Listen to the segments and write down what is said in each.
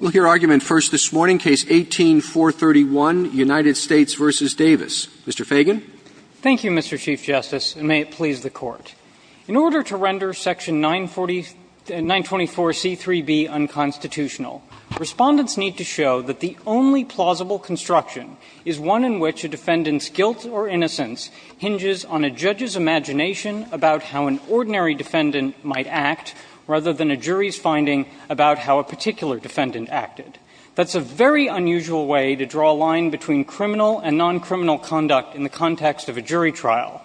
case, 18431, United States v. Davis. Mr. Fagan. Thank you, Mr. Chief Justice, and may it please the Court. In order to render section 924C3B unconstitutional, Respondents need to show that the only plausible construction is one in which a defendant's guilt or innocence hinges on a judge's imagination about how an ordinary defendant might act, rather than a jury's finding about how a particular defendant acted. That's a very unusual way to draw a line between criminal and noncriminal conduct in the context of a jury trial,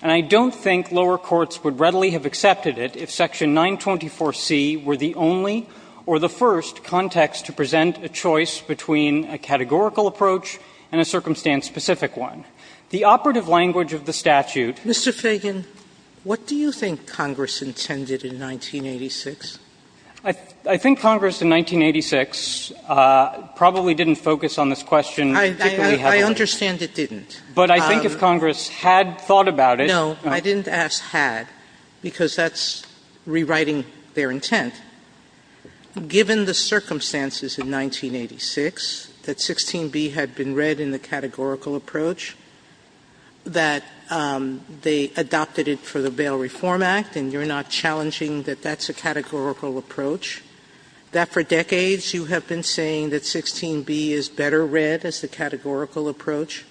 and I don't think lower courts would readily have accepted it if section 924C were the only or the first context to present a choice between a categorical approach and a circumstance-specific one. The operative language of the statute Mr. Fagan, what do you think Congress intended in 1986? I think Congress in 1986 probably didn't focus on this question. I understand it didn't. But I think if Congress had thought about it. No, I didn't ask had, because that's rewriting their intent. Given the circumstances in 1986 that 16b had been read in the categorical approach, that they adopted it for the Bail Reform Act, and you're not challenging that that's a categorical approach, that for decades you have been saying that 16b is better read as the categorical approach,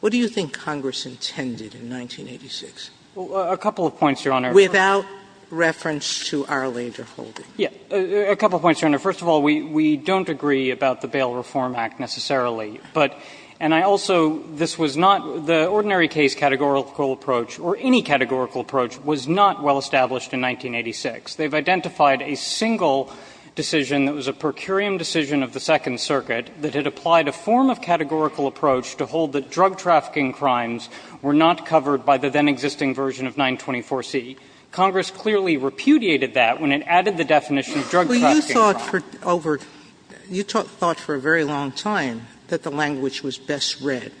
what do you think Congress intended in 1986? A couple of points, Your Honor. Without reference to our later holding. A couple of points, Your Honor. First of all, we don't agree about the Bail Reform Act necessarily, but and I also this was not the ordinary case categorical approach or any categorical approach was not well established in 1986. They've identified a single decision that was a per curiam decision of the Second Circuit that had applied a form of categorical approach to hold that drug trafficking crimes were not covered by the then existing version of 924C. Congress clearly repudiated that when it added the definition of drug trafficking crimes. Sotomayor, you thought for a very long time that the language was best read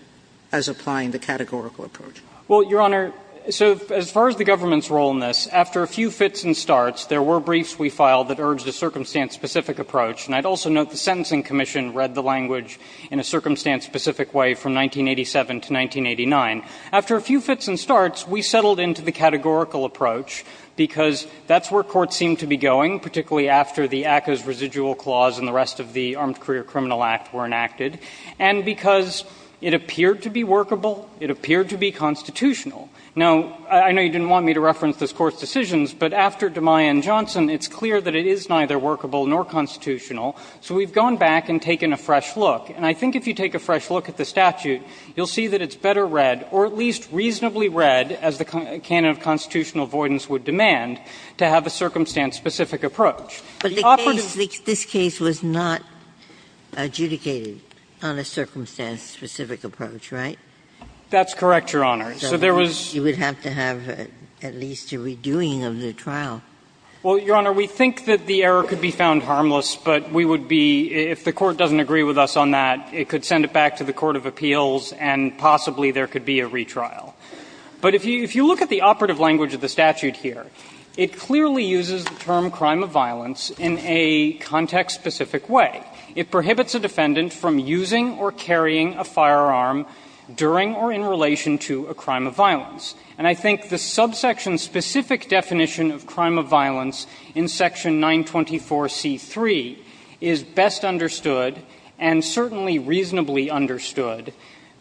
as applying the categorical approach. Well, Your Honor, so as far as the government's role in this, after a few fits and starts, there were briefs we filed that urged a circumstance-specific approach. And I'd also note the Sentencing Commission read the language in a circumstance-specific way from 1987 to 1989. After a few fits and starts, we settled into the categorical approach because that's where courts seemed to be going, particularly after the ACCA's residual clause and the rest of the Armed Career Criminal Act were enacted, and because it appeared to be workable, it appeared to be constitutional. Now, I know you didn't want me to reference this Court's decisions, but after DeMuy and Johnson, it's clear that it is neither workable nor constitutional. So we've gone back and taken a fresh look. And I think if you take a fresh look at the statute, you'll see that it's better read, or at least reasonably read, as the canon of constitutional avoidance would demand, to have a circumstance-specific approach. The operative was not adjudicated on a circumstance-specific approach, right? That's correct, Your Honor. So there was you would have to have at least a redoing of the trial. Well, Your Honor, we think that the error could be found harmless, but we would be, if the Court doesn't agree with us on that, it could send it back to the court of appeals, and possibly there could be a retrial. But if you look at the operative language of the statute here, it clearly uses the term crime of violence in a context-specific way. It prohibits a defendant from using or carrying a firearm during or in relation to a crime of violence. And I think the subsection-specific definition of crime of violence in Section 924C3 is best understood, and certainly reasonably understood,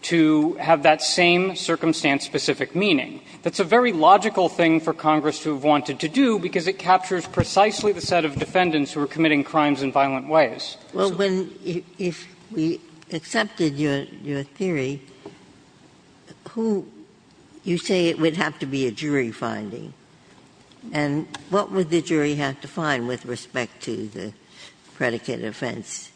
to have that same circumstance-specific meaning. That's a very logical thing for Congress to have wanted to do, because it captures precisely the set of defendants who are committing crimes in violent ways. Well, if we accepted your theory, you say it would have to be a jury finding. And what would the jury have to find with respect to the predicate offense?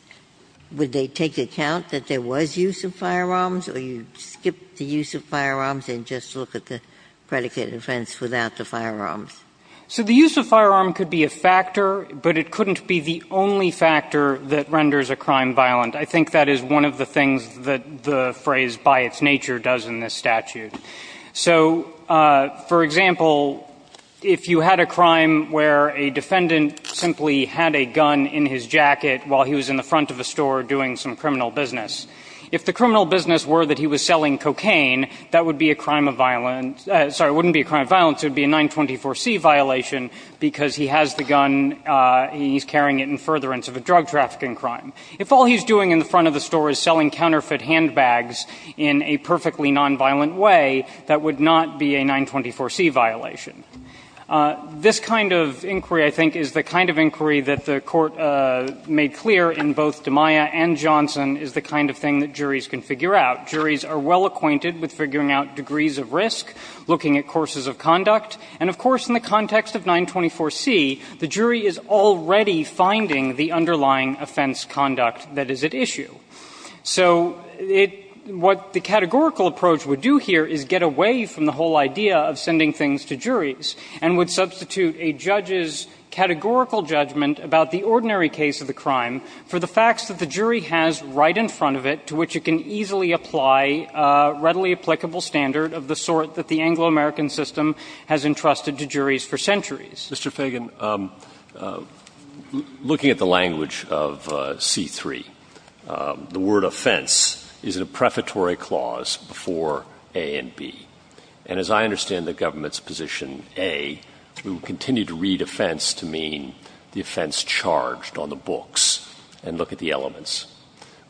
Would they take account that there was use of firearms, or you'd skip the use of firearms and just look at the predicate offense without the firearms? So the use of firearm could be a factor, but it couldn't be the only factor that renders a crime violent. I think that is one of the things that the phrase, by its nature, does in this statute. So, for example, if you had a crime where a defendant simply had a gun in his jacket while he was in the front of a store doing some criminal business, if the criminal business were that he was selling cocaine, that would be a crime of violence – sorry, it wouldn't be a crime of violence. It would be a 924C violation, because he has the gun, he's carrying it in furtherance of a drug trafficking crime. If all he's doing in the front of the store is selling counterfeit handbags in a perfectly nonviolent way, that would not be a 924C violation. This kind of inquiry, I think, is the kind of inquiry that the Court made clear in both DeMaia and Johnson is the kind of thing that juries can figure out. Juries are well acquainted with figuring out degrees of risk, looking at courses of conduct. And, of course, in the context of 924C, the jury is already finding the underlying offense conduct that is at issue. So it – what the categorical approach would do here is get away from the whole idea of sending things to juries and would substitute a judge's categorical judgment about the ordinary case of the crime for the facts that the jury has right in front of it to which it can easily apply a readily applicable standard of the sort that the Anglo-American system has entrusted to juries for centuries. Mr. Fagan, looking at the language of C-3, the word offense is in a prefatory clause before A and B. And as I understand the government's position, A, we will continue to read offense to mean the offense charged on the books and look at the elements.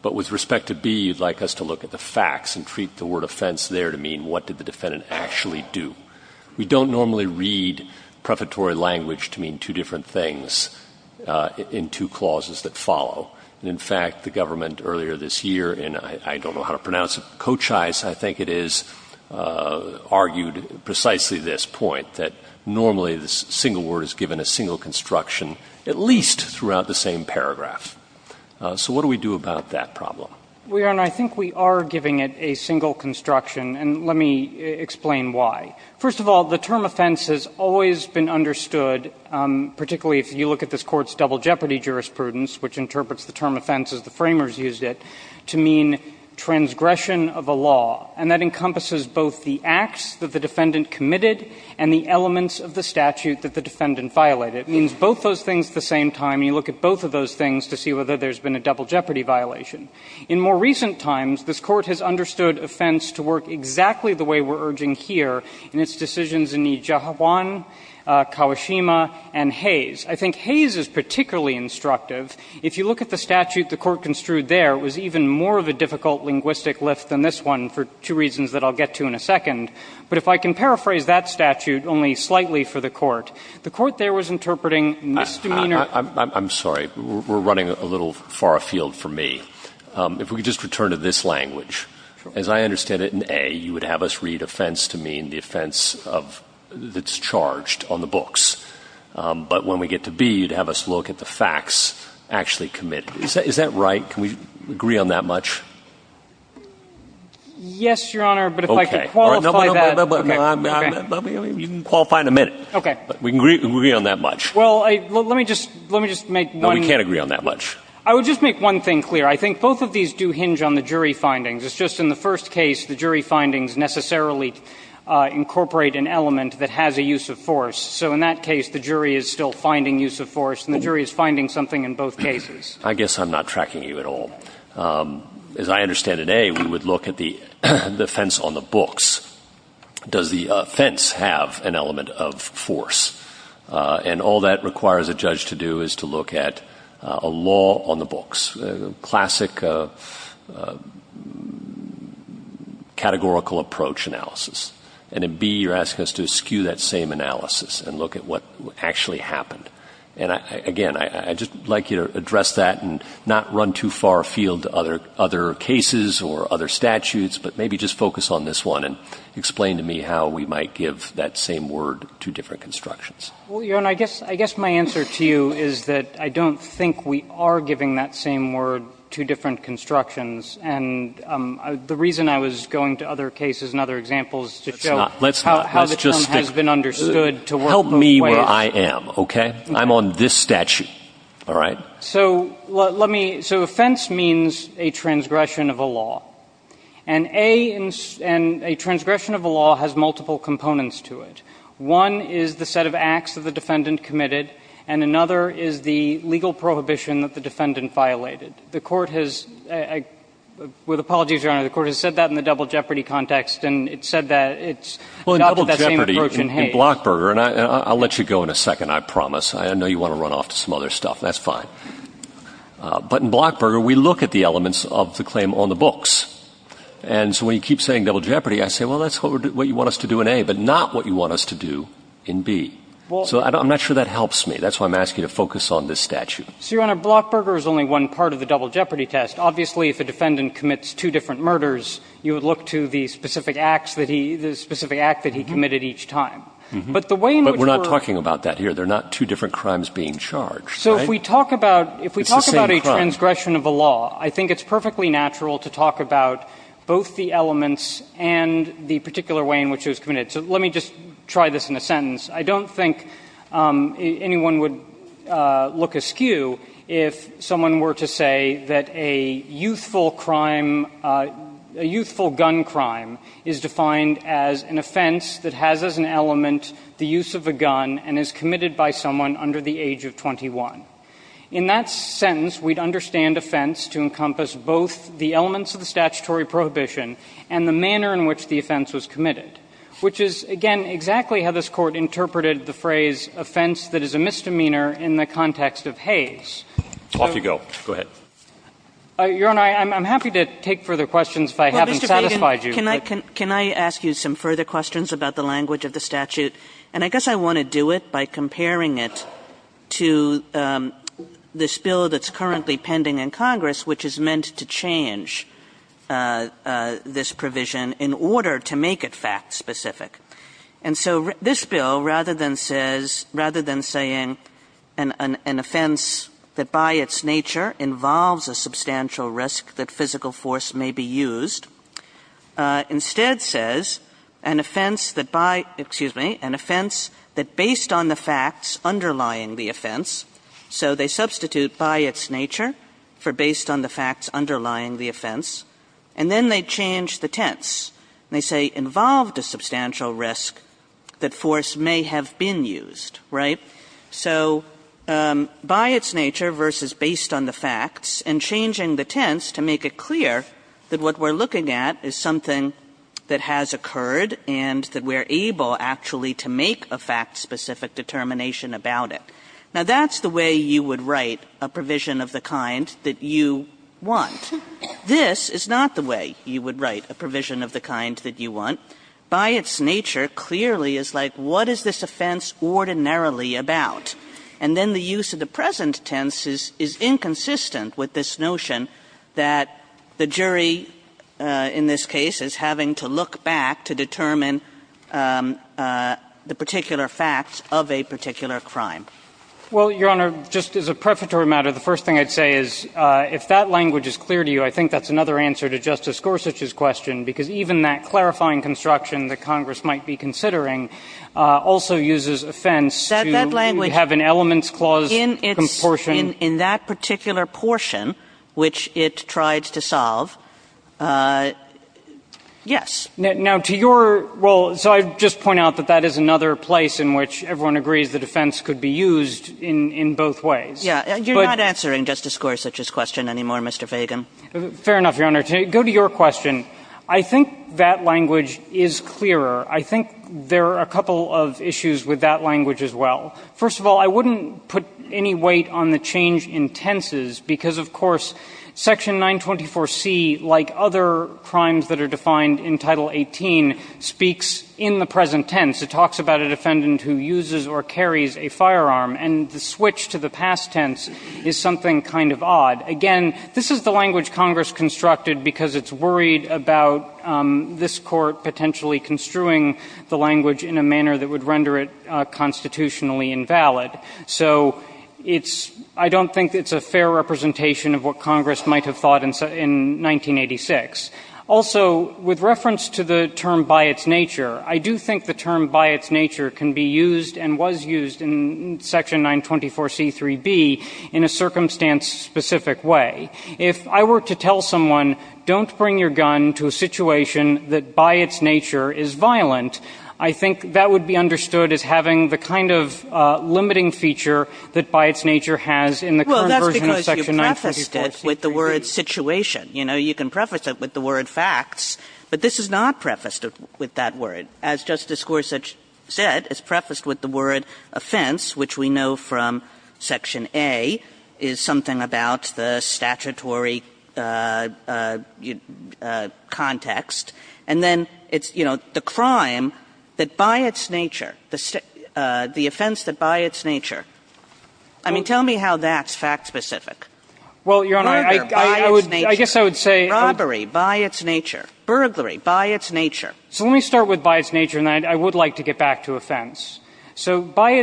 But with respect to B, you'd like us to look at the facts and treat the word offense there to mean what did the defendant actually do. We don't normally read prefatory language to mean two different things in two clauses that follow. And, in fact, the government earlier this year in – I don't know how to pronounce it – Cochise, I think it is, argued precisely this point, that normally the single word is given a single construction at least throughout the same paragraph. So what do we do about that problem? Mr. Fagan, I think we are giving it a single construction, and let me explain why. First of all, the term offense has always been understood, particularly if you look at this Court's double jeopardy jurisprudence, which interprets the term offense as the framers used it, to mean transgression of a law. And that encompasses both the acts that the defendant committed and the elements of the statute that the defendant violated. It means both those things at the same time. You look at both of those things to see whether there's been a double jeopardy violation. In more recent times, this Court has understood offense to work exactly the way we're urging here in its decisions in Nijihawan, Kawashima, and Hayes. I think Hayes is particularly instructive. If you look at the statute the Court construed there, it was even more of a difficult linguistic lift than this one for two reasons that I'll get to in a second. But if I can paraphrase that statute only slightly for the Court, the Court there was interpreting misdemeanor – If we could just return to this language. As I understand it, in A, you would have us read offense to mean the offense of – that's charged on the books. But when we get to B, you'd have us look at the facts actually committed. Is that right? Can we agree on that much? Yes, Your Honor, but if I could qualify that. No, but you can qualify in a minute. Okay. We can agree on that much. Well, let me just make one – No, we can't agree on that much. I would just make one thing clear. I think both of these do hinge on the jury findings. It's just in the first case, the jury findings necessarily incorporate an element that has a use of force. So in that case, the jury is still finding use of force, and the jury is finding something in both cases. I guess I'm not tracking you at all. As I understand it, A, we would look at the offense on the books. Does the offense have an element of force? A, you're asking us to do this classic categorical approach analysis, and in B, you're asking us to skew that same analysis and look at what actually happened. And again, I'd just like you to address that and not run too far afield to other cases or other statutes, but maybe just focus on this one and explain to me how we might give that same word to different constructions. Well, Your Honor, I guess my answer to you is that I don't think we are giving that same word to different constructions. And the reason I was going to other cases and other examples is to show how the term has been understood to work both ways. Help me where I am, okay? I'm on this statute, all right? So let me – so offense means a transgression of a law. And A, a transgression of a law has multiple components to it. One is the set of acts that the defendant committed, and another is the legal prohibition that the defendant violated. The Court has – with apologies, Your Honor, the Court has said that in the double jeopardy context, and it said that it's not that same approach in Hague. Well, in double jeopardy, in Blockburger – and I'll let you go in a second, I promise. I know you want to run off to some other stuff. That's fine. But in Blockburger, we look at the elements of the claim on the books. And so when you keep saying double jeopardy, I say, well, that's what you want us to do in A, but not what you want us to do in B. Well – So I'm not sure that helps me. That's why I'm asking you to focus on this statute. So, Your Honor, Blockburger is only one part of the double jeopardy test. Obviously, if a defendant commits two different murders, you would look to the specific acts that he – the specific act that he committed each time. But the way in which we're – But we're not talking about that here. There are not two different crimes being charged, right? So if we talk about – It's the same crime. If we talk about a transgression of a law, I think it's perfectly natural to talk about both the elements and the particular way in which it was committed. So let me just try this in a sentence. I don't think anyone would look askew if someone were to say that a youthful crime – a youthful gun crime is defined as an offense that has as an element the use of a gun and is committed by someone under the age of 21. In that sentence, we'd understand offense to encompass both the elements of the statutory prohibition and the manner in which the offense was committed, which is, again, exactly how this Court interpreted the phrase, offense that is a misdemeanor in the context of Hays. Off you go. Go ahead. Your Honor, I'm happy to take further questions if I haven't satisfied you. Well, Mr. Feigin, can I ask you some further questions about the language of the statute? And I guess I want to do it by comparing it to this bill that's currently pending in Congress, which is meant to change this provision in order to make it fact-specific. And so this bill, rather than saying an offense that by its nature involves a substantial risk that physical force may be used, instead says an offense that by – excuse me – an offense that based on the facts underlying the offense. So they substitute by its nature for based on the facts underlying the offense. And then they change the tense, and they say involved a substantial risk that force may have been used, right? So by its nature versus based on the facts, and changing the tense to make it clear that what we're looking at is something that has occurred and that we're able actually to make a fact-specific determination about it. Now, that's the way you would write a provision of the kind that you want. This is not the way you would write a provision of the kind that you want. But by its nature, clearly, it's like what is this offense ordinarily about? And then the use of the present tense is inconsistent with this notion that the jury in this case is having to look back to determine the particular facts of a particular crime. Well, Your Honor, just as a prefatory matter, the first thing I'd say is if that language is clear to you, I think that's another answer to Justice Gorsuch's question, because even that clarifying construction that Congress might be considering also uses offense to have an elements clause portion. In that particular portion, which it tries to solve, yes. Now, to your role, so I just point out that that is another place in which everyone agrees that offense could be used in both ways. Yeah. You're not answering Justice Gorsuch's question anymore, Mr. Fagan. Fair enough, Your Honor. To go to your question, I think that language is clearer. I think there are a couple of issues with that language as well. First of all, I wouldn't put any weight on the change in tenses, because, of course, Section 924C, like other crimes that are defined in Title 18, speaks in the present tense. It talks about a defendant who uses or carries a firearm, and the switch to the past tense is something kind of odd. Again, this is the language Congress constructed because it's worried about this Court potentially construing the language in a manner that would render it constitutionally invalid. So it's — I don't think it's a fair representation of what Congress might have thought in 1986. Also, with reference to the term by its nature, I do think the term by its nature can be used and was used in Section 924C3b in a circumstance-specific way. If I were to tell someone, don't bring your gun to a situation that by its nature is violent, I think that would be understood as having the kind of limiting feature that by its nature has in the current version of Section 924C3b. Kagan. Well, that's because you prefaced it with the word situation. You know, you can preface it with the word facts, but this is not prefaced with that word. As Justice Gorsuch said, it's prefaced with the word offense, which we know from Section A is something about the statutory context. And then it's, you know, the crime that by its nature, the offense that by its nature. I mean, tell me how that's fact-specific. Well, Your Honor, I would — Burglary by its nature. I guess I would say — Robbery by its nature. Burglary by its nature. So let me start with by its nature, and then I would like to get back to offense. So by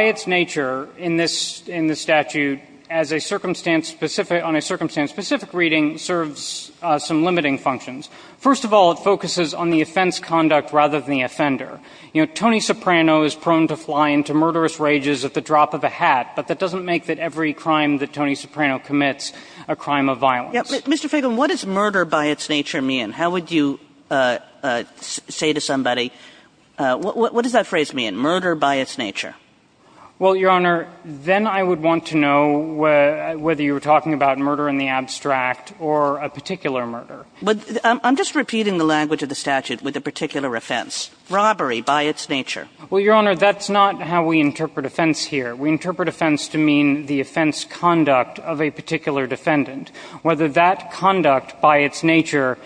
its nature in this statute, as a circumstance-specific — on a circumstance-specific reading, serves some limiting functions. First of all, it focuses on the offense conduct rather than the offender. You know, Tony Soprano is prone to fly into murderous rages at the drop of a hat, but that doesn't make that every crime that Tony Soprano commits a crime of violence. Mr. Feigin, what does murder by its nature mean? How would you say to somebody — what does that phrase mean, murder by its nature? Well, Your Honor, then I would want to know whether you were talking about murder in the abstract or a particular murder. But I'm just repeating the language of the statute with a particular offense. Robbery by its nature. Well, Your Honor, that's not how we interpret offense here. We interpret offense to mean the offense conduct of a particular defendant. Whether that conduct by its nature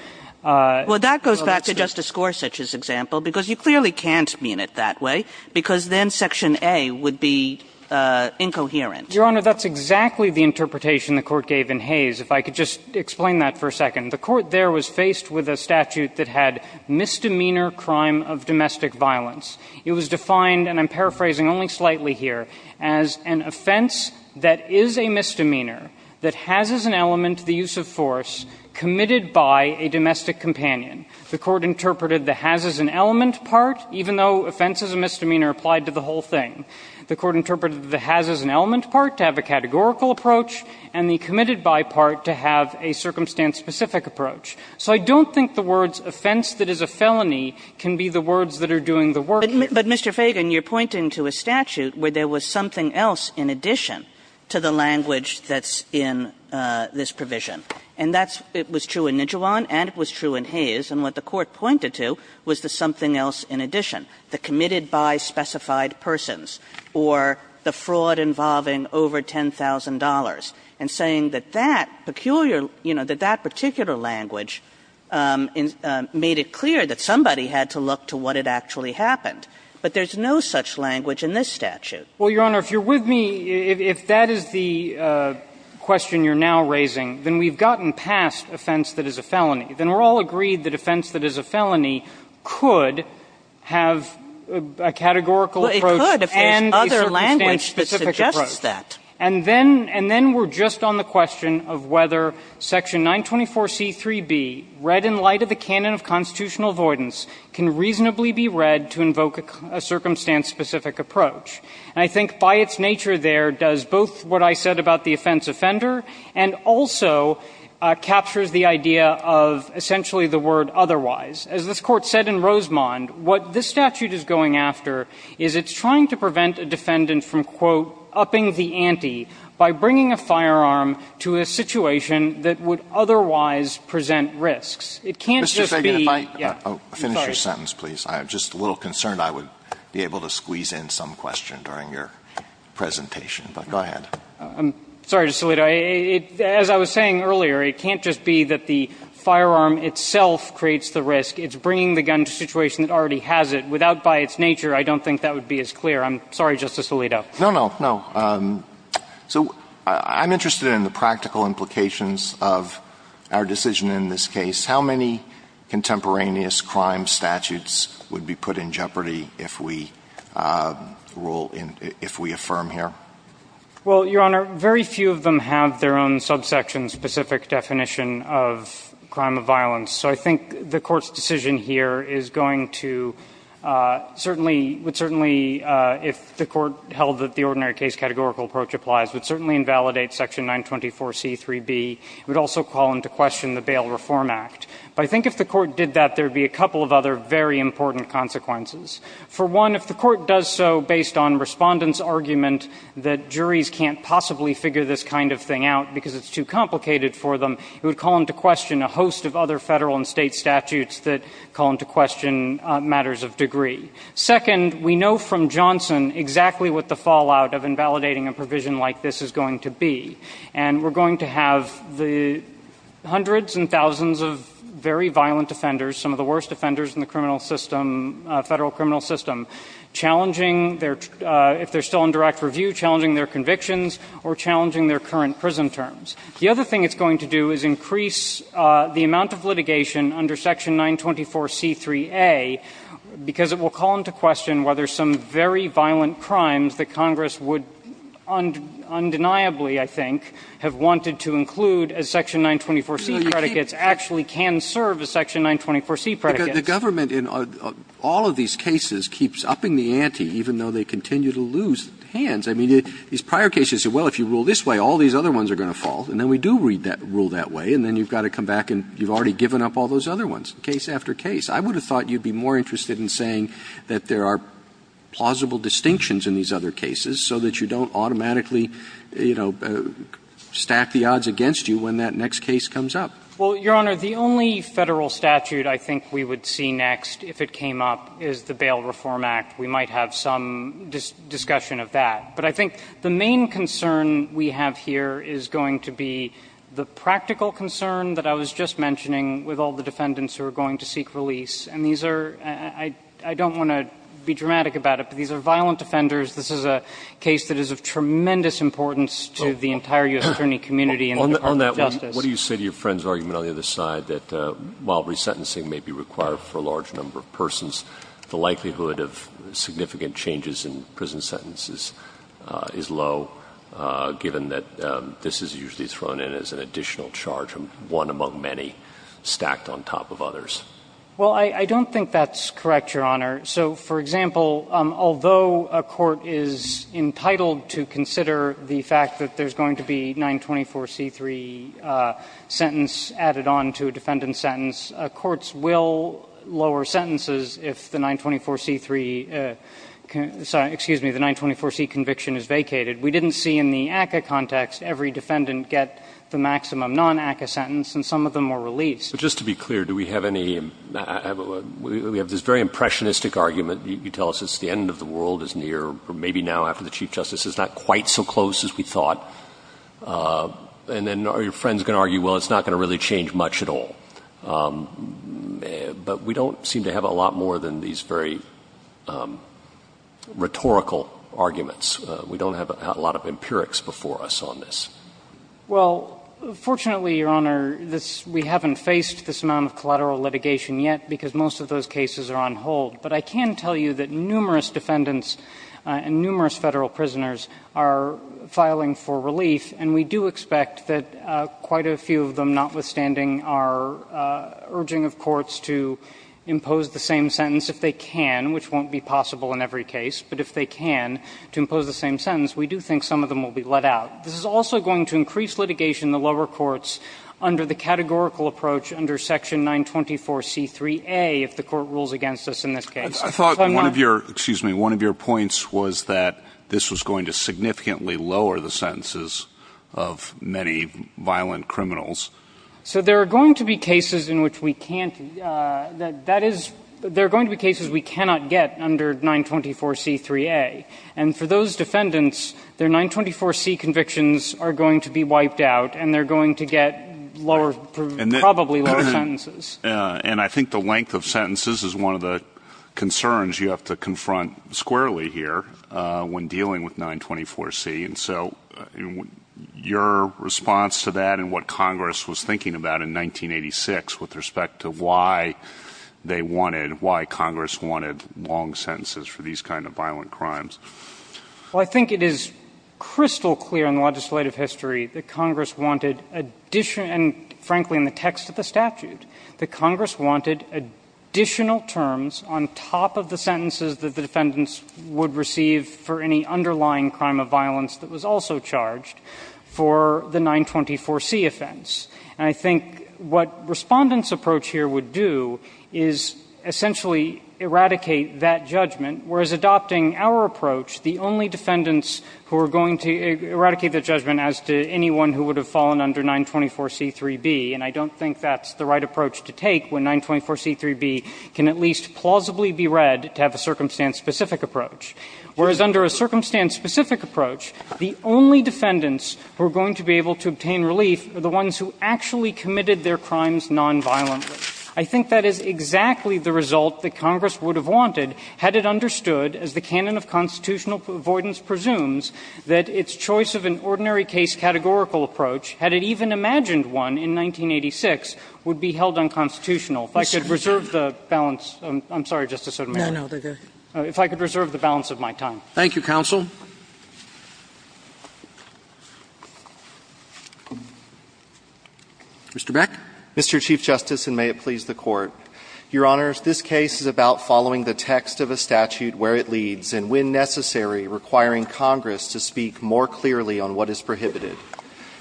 — Well, that goes back to Justice Gorsuch's example, because you clearly can't mean it that way, because then Section A would be incoherent. Your Honor, that's exactly the interpretation the Court gave in Hayes. If I could just explain that for a second. The Court there was faced with a statute that had misdemeanor crime of domestic violence. It was defined, and I'm paraphrasing only slightly here, as an offense that is a misdemeanor that has as an element the use of force committed by a domestic companion. The Court interpreted the has as an element part, even though offense is a misdemeanor applied to the whole thing. The Court interpreted the has as an element part to have a categorical approach and the committed by part to have a circumstance-specific approach. So I don't think the words, offense that is a felony, can be the words that are doing the work here. But, Mr. Feigin, you're pointing to a statute where there was something else in addition to the language that's in this provision. And that's what was true in Nijuan and it was true in Hayes, and what the Court pointed to was the something else in addition, the committed by specified persons or the fraud involving over $10,000, and saying that that peculiar, you know, that that particular language made it clear that somebody had to look to what had actually happened, but there's no such language in this statute. Feigin, Well, Your Honor, if you're with me, if that is the question you're now raising, then we've gotten past offense that is a felony. Then we're all agreed that offense that is a felony could have a categorical approach and a circumstance-specific approach. Sotomayor, Well, it could if there's other language that suggests that. Feigin, And then we're just on the question of whether section 924C3b, read in light of the canon of constitutional avoidance, can reasonably be read to invoke a circumstance-specific approach. And I think by its nature there does both what I said about the offense offender and also captures the idea of essentially the word otherwise. As this Court said in Rosemond, what this statute is going after is it's trying to prevent a defendant from, quote, upping the ante by bringing a firearm to a situation that would otherwise present risks. It can't just be, yeah, I'm sorry. Alito, Mr. Feigin, if I could finish your sentence, please. I'm just a little concerned I would be able to squeeze in some question during your presentation, but go ahead. Feigin, I'm sorry, Justice Alito. As I was saying earlier, it can't just be that the firearm itself creates the risk. It's bringing the gun to a situation that already has it. Without by its nature, I don't think that would be as clear. I'm sorry, Justice Alito. Alito, No, no, no. So I'm interested in the practical implications of our decision in this case. How many contemporaneous crime statutes would be put in jeopardy if we affirm here? Well, Your Honor, very few of them have their own subsection-specific definition of crime of violence. So I think the Court's decision here is going to certainly, would certainly, if the Court held that the ordinary case categorical approach applies, would certainly invalidate Section 924C3B. It would also call into question the Bail Reform Act. But I think if the Court did that, there would be a couple of other very important consequences. For one, if the Court does so based on respondents' argument that juries can't possibly figure this kind of thing out because it's too complicated for them, it would call into question a host of other federal and state statutes that call into question matters of degree. Second, we know from Johnson exactly what the fallout of invalidating a provision like this is going to be. And we're going to have the hundreds and thousands of very violent offenders, some of the worst offenders in the criminal system, federal criminal system, challenging their, if they're still in direct review, challenging their convictions, or challenging their current prison terms. The other thing it's going to do is increase the amount of litigation under Section 924C3A because it will call into question whether some very violent crimes that Congress would undeniably, I think, have wanted to include as Section 924C predicates actually can serve as Section 924C predicates. Roberts. The government in all of these cases keeps upping the ante, even though they continue to lose hands. I mean, these prior cases, well, if you rule this way, all these other ones are going to fall. And then we do read that rule that way, and then you've got to come back and you've already given up all those other ones, case after case. I would have thought you'd be more interested in saying that there are plausible distinctions in these other cases so that you don't automatically, you know, stack the odds against you when that next case comes up. Well, Your Honor, the only federal statute I think we would see next, if it came up, is the Bail Reform Act. We might have some discussion of that. But I think the main concern we have here is going to be the practical concern that I was just mentioning with all the defendants who are going to seek release. And these are – I don't want to be dramatic about it, but these are violent offenders. This is a case that is of tremendous importance to the entire U.S. attorney community and the Department of Justice. On that one, what do you say to your friend's argument on the other side that while resentencing may be required for a large number of persons, the likelihood of significant changes in prison sentences is low, given that this is usually thrown in as an additional charge, one among many, stacked on top of others? Well, I don't think that's correct, Your Honor. So, for example, although a court is entitled to consider the fact that there's going to be 924c3 sentence added on to a defendant's sentence, courts will lower sentences if the 924c3 – sorry, excuse me, the 924c conviction is vacated. We didn't see in the ACCA context every defendant get the maximum non-ACCA sentence, and some of them were released. But just to be clear, do we have any – we have this very impressionistic argument. You tell us it's the end of the world, it's near, or maybe now after the Chief Justice, it's not quite so close as we thought. And then are your friends going to argue, well, it's not going to really change much at all? But we don't seem to have a lot more than these very rhetorical arguments. We don't have a lot of empirics before us on this. Well, fortunately, Your Honor, this – we haven't faced this amount of collateral litigation yet, because most of those cases are on hold. But I can tell you that numerous defendants and numerous Federal prisoners are filing for relief, and we do expect that quite a few of them, notwithstanding, are urging of courts to impose the same sentence if they can, which won't be possible in every case, but if they can, to impose the same sentence, we do think some of them will be let out. This is also going to increase litigation in the lower courts under the categorical approach under section 924C3A if the Court rules against us in this case. So I'm not – I thought one of your – excuse me – one of your points was that this was going to significantly lower the sentences of many violent criminals. So there are going to be cases in which we can't – that is – there are going to be cases we cannot get under 924C3A. And for those defendants, their 924C convictions are going to be wiped out, and they're going to get lower – probably lower sentences. And I think the length of sentences is one of the concerns you have to confront squarely here when dealing with 924C. And so your response to that and what Congress was thinking about in 1986 with respect to why they wanted – why Congress wanted long sentences for these kind of violent crimes? Well, I think it is crystal clear in the legislative history that Congress wanted additional – and frankly, in the text of the statute, that Congress wanted additional terms on top of the sentences that the defendants would receive for any underlying crime of violence that was also charged for the 924C offense. And I think what Respondent's approach here would do is essentially eradicate that judgment, whereas adopting our approach, the only defendants who are going to eradicate that judgment as to anyone who would have fallen under 924C3B – and I don't think that's the right approach to take when 924C3B can at least plausibly be read to have a circumstance-specific approach – whereas under a circumstance-specific approach, the only defendants who are going to be able to obtain relief are the ones who actually committed their crimes nonviolently. I think that is exactly the result that Congress would have wanted had it understood, as the canon of constitutional avoidance presumes, that its choice of an ordinary case-categorical approach, had it even imagined one in 1986, would be held unconstitutional. If I could reserve the balance – I'm sorry, Justice Sotomayor. No, no, they're good. If I could reserve the balance of my time. Thank you, counsel. Mr. Beck. Mr. Chief Justice, and may it please the Court. Your Honors, this case is about following the text of a statute where it leads, and when necessary, requiring Congress to speak more clearly on what is prohibited.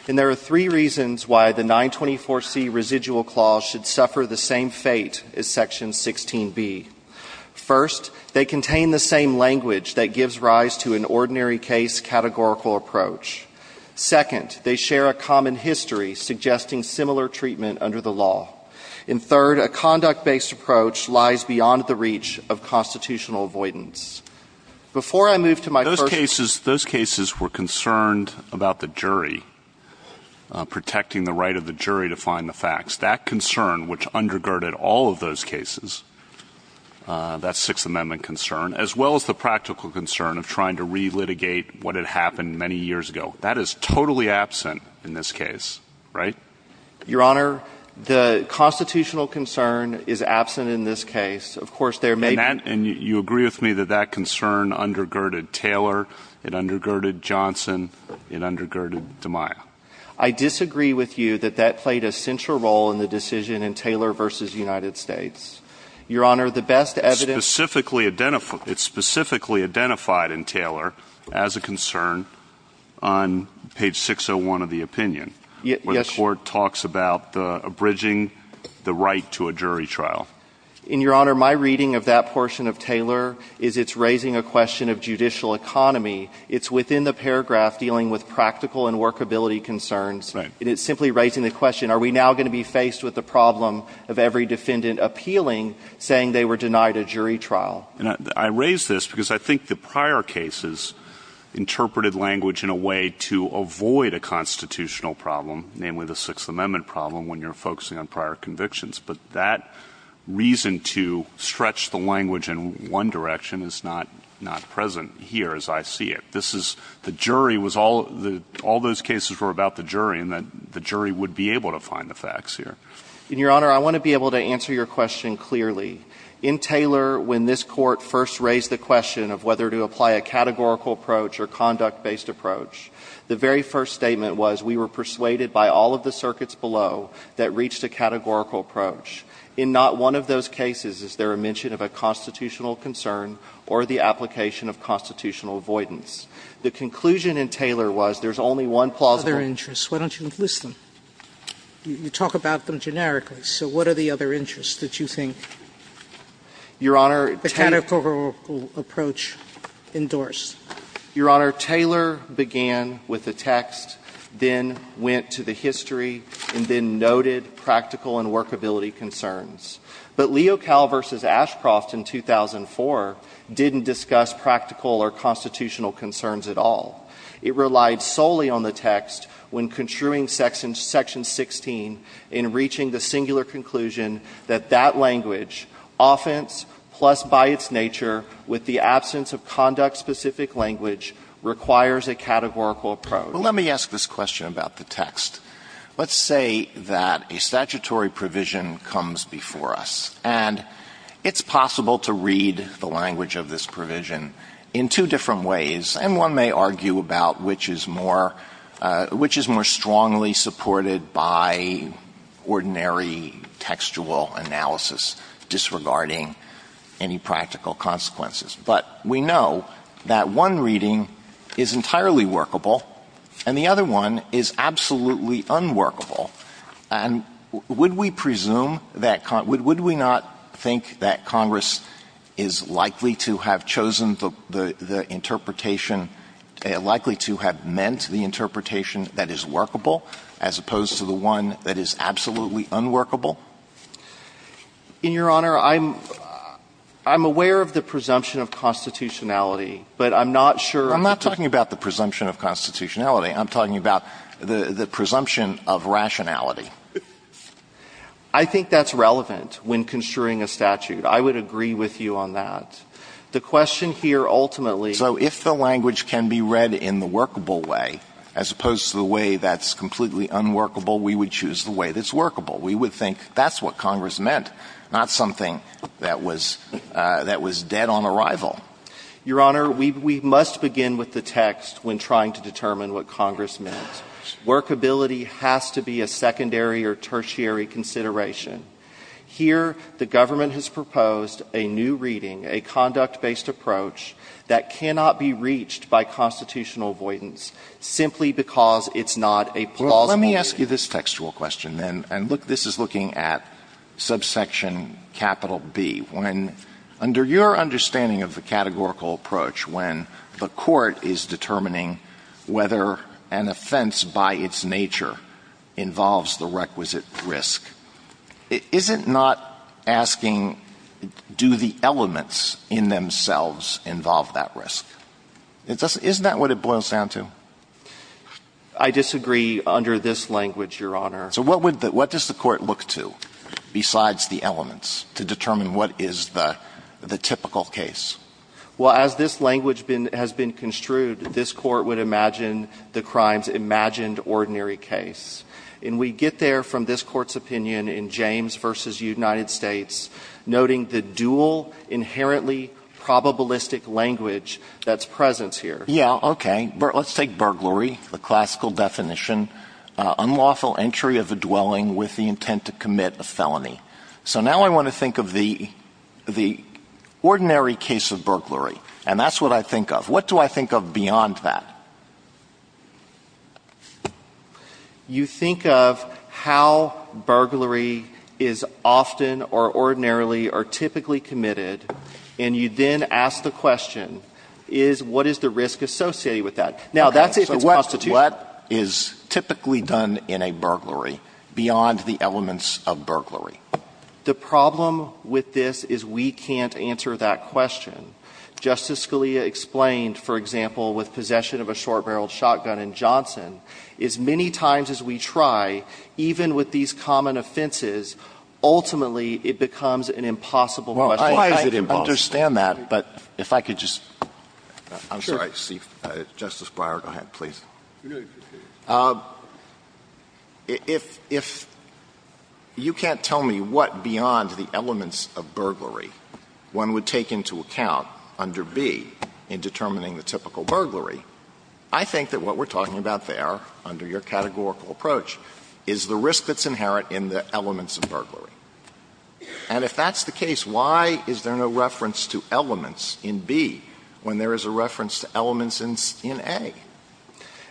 And there are three reasons why the 924C residual clause should suffer the same fate as Section 16B. First, they contain the same language that gives rise to an ordinary case-categorical approach. Second, they share a common history, suggesting similar treatment under the law. And third, a conduct-based approach lies beyond the reach of constitutional avoidance. Before I move to my first point – Those cases were concerned about the jury, protecting the right of the jury to find the facts. That concern, which undergirded all of those cases, that Sixth Amendment concern, as well as the practical concern of trying to relitigate what had happened many years ago, that is totally absent in this case, right? Your Honor, the constitutional concern is absent in this case. Of course, there may be – And you agree with me that that concern undergirded Taylor, it undergirded Johnson, it undergirded DeMaia. I disagree with you that that played a central role in the decision in Taylor v. United States. Your Honor, the best evidence – It's specifically identified in Taylor as a concern on page 601 of the opinion. Yes – Where the Court talks about abridging the right to a jury trial. And, Your Honor, my reading of that portion of Taylor is it's raising a question of judicial economy. It's within the paragraph dealing with practical and workability concerns. Right. And it's simply raising the question, are we now going to be faced with the problem of every defendant appealing, saying they were denied a jury trial? And I raise this because I think the prior cases interpreted language in a way to avoid a constitutional problem, namely the Sixth Amendment problem, when you're focusing on prior convictions. But that reason to stretch the language in one direction is not present here, as I see it. This is – the jury was all – all those cases were about the jury, and the jury would be able to find the facts here. And, Your Honor, I want to be able to answer your question clearly. In Taylor, when this Court first raised the question of whether to apply a categorical approach or conduct-based approach, the very first statement was we were persuaded by all of the circuits below that reached a categorical approach. In not one of those cases is there a mention of a constitutional concern or the application of constitutional avoidance. The conclusion in Taylor was there's only one plausible – Sotomayor, why don't you list them? You talk about them generically. So what are the other interests that you think the categorical approach endorsed? Your Honor, Taylor began with the text, then went to the history, and then noted practical and workability concerns. But Leocal v. Ashcroft in 2004 didn't discuss practical or constitutional concerns at all. It relied solely on the text when construing section – section 16 in reaching the singular conclusion that that language, offense plus by its nature with the absence of conduct-specific language, requires a categorical approach. Well, let me ask this question about the text. Let's say that a statutory provision comes before us, and it's possible to read the language of this provision in two different ways, and one may argue about which is more – which is more strongly supported by ordinary textual analysis disregarding any practical consequences. But we know that one reading is entirely workable, and the other one is absolutely unworkable. And would we presume that – would we not think that Congress is likely to have chosen the interpretation – likely to have meant the interpretation that is workable as opposed to the one that is absolutely unworkable? In Your Honor, I'm – I'm aware of the presumption of constitutionality, but I'm not sure that the – I'm not talking about the presumption of constitutionality. I'm talking about the – the presumption of rationality. I think that's relevant when construing a statute. I would agree with you on that. The question here ultimately – So if the language can be read in the workable way as opposed to the way that's completely unworkable, we would choose the way that's workable. We would think that's what Congress meant, not something that was – that was dead on arrival. Your Honor, we – we must begin with the text when trying to determine what Congress meant. Workability has to be a secondary or tertiary consideration. Here, the government has proposed a new reading, a conduct-based approach that cannot be reached by constitutional avoidance simply because it's not a plausible reading. Well, let me ask you this textual question, then, and look – this is looking at subsection capital B. When – under your understanding of the categorical approach, when the court is determining whether an offense by its nature involves the requisite risk, is it not asking, do the elements in themselves involve that risk? It doesn't – isn't that what it boils down to? I disagree under this language, Your Honor. So what would the – what does the court look to besides the elements to determine what is the – the typical case? Well, as this language been – has been construed, this court would imagine the crime's imagined ordinary case. And we get there from this Court's opinion in James v. United States, noting the dual, inherently probabilistic language that's present here. Yeah, okay. Let's take – let's take burglary, the classical definition, unlawful entry of a dwelling with the intent to commit a felony. So now I want to think of the – the ordinary case of burglary, and that's what I think of. What do I think of beyond that? You think of how burglary is often or ordinarily or typically committed, and you then ask the question, is what is the risk associated with that? Now, that's if it's constitutional. Okay. So what – what is typically done in a burglary beyond the elements of burglary? The problem with this is we can't answer that question. Justice Scalia explained, for example, with possession of a short-barreled shotgun in Johnson, as many times as we try, even with these common offenses, ultimately it becomes an impossible question. Why is it impossible? I understand that, but if I could just – I'm sorry, Justice Breyer, go ahead, please. If – if you can't tell me what beyond the elements of burglary one would take into account under B in determining the typical burglary, I think that what we're talking about there under your categorical approach is the risk that's inherent in the elements of burglary. And if that's the case, why is there no reference to elements in B when there is a reference to elements in – in A?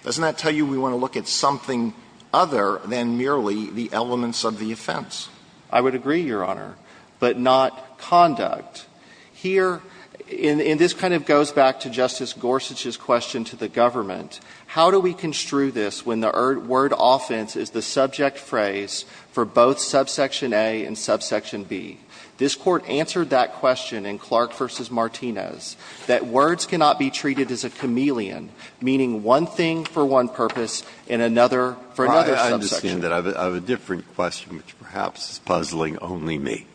Doesn't that tell you we want to look at something other than merely the elements of the offense? I would agree, Your Honor, but not conduct. Here – and this kind of goes back to Justice Gorsuch's question to the government. How do we construe this when the word offense is the subject phrase for both subsection A and subsection B? This Court answered that question in Clark v. Martinez, that words cannot be treated as a chameleon, meaning one thing for one purpose and another for another subsection. Breyer, I understand that. I have a different question, which perhaps is puzzling only me.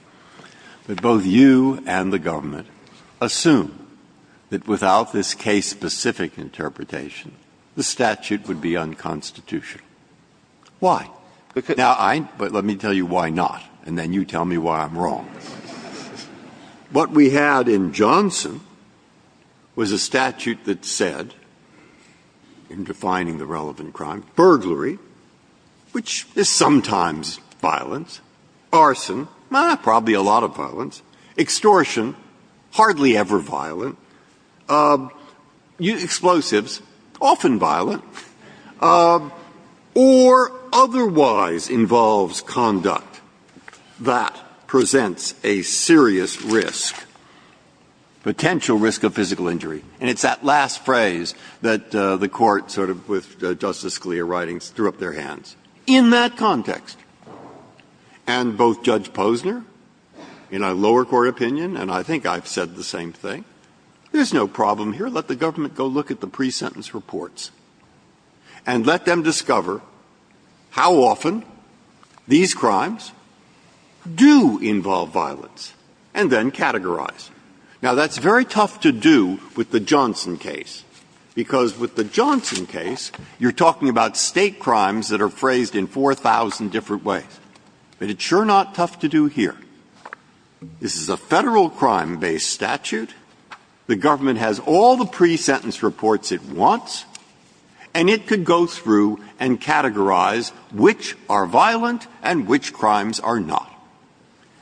But both you and the government assume that without this case-specific interpretation, the statute would be unconstitutional. Why? Now, I – but let me tell you why not, and then you tell me why I'm wrong. What we had in Johnson was a statute that said, in defining the relevant crime, burglary, which is sometimes violence, arson, probably a lot of violence, extortion, hardly ever violent, explosives, often violent, or otherwise involves conduct that presents a serious risk, potential risk of physical injury. And it's that last phrase that the Court sort of, with Justice Scalia's writings, threw up their hands. In that context, and both Judge Posner, in a lower court opinion, and I think I've said the same thing, there's no problem here. Let the government go look at the pre-sentence reports and let them discover how often these crimes do involve violence and then categorize. Now, that's very tough to do with the Johnson case, because with the Johnson case, you're talking about State crimes that are phrased in 4,000 different ways. But it's sure not tough to do here. This is a Federal crime-based statute. The government has all the pre-sentence reports it wants, and it could go through and categorize which are violent and which crimes are not.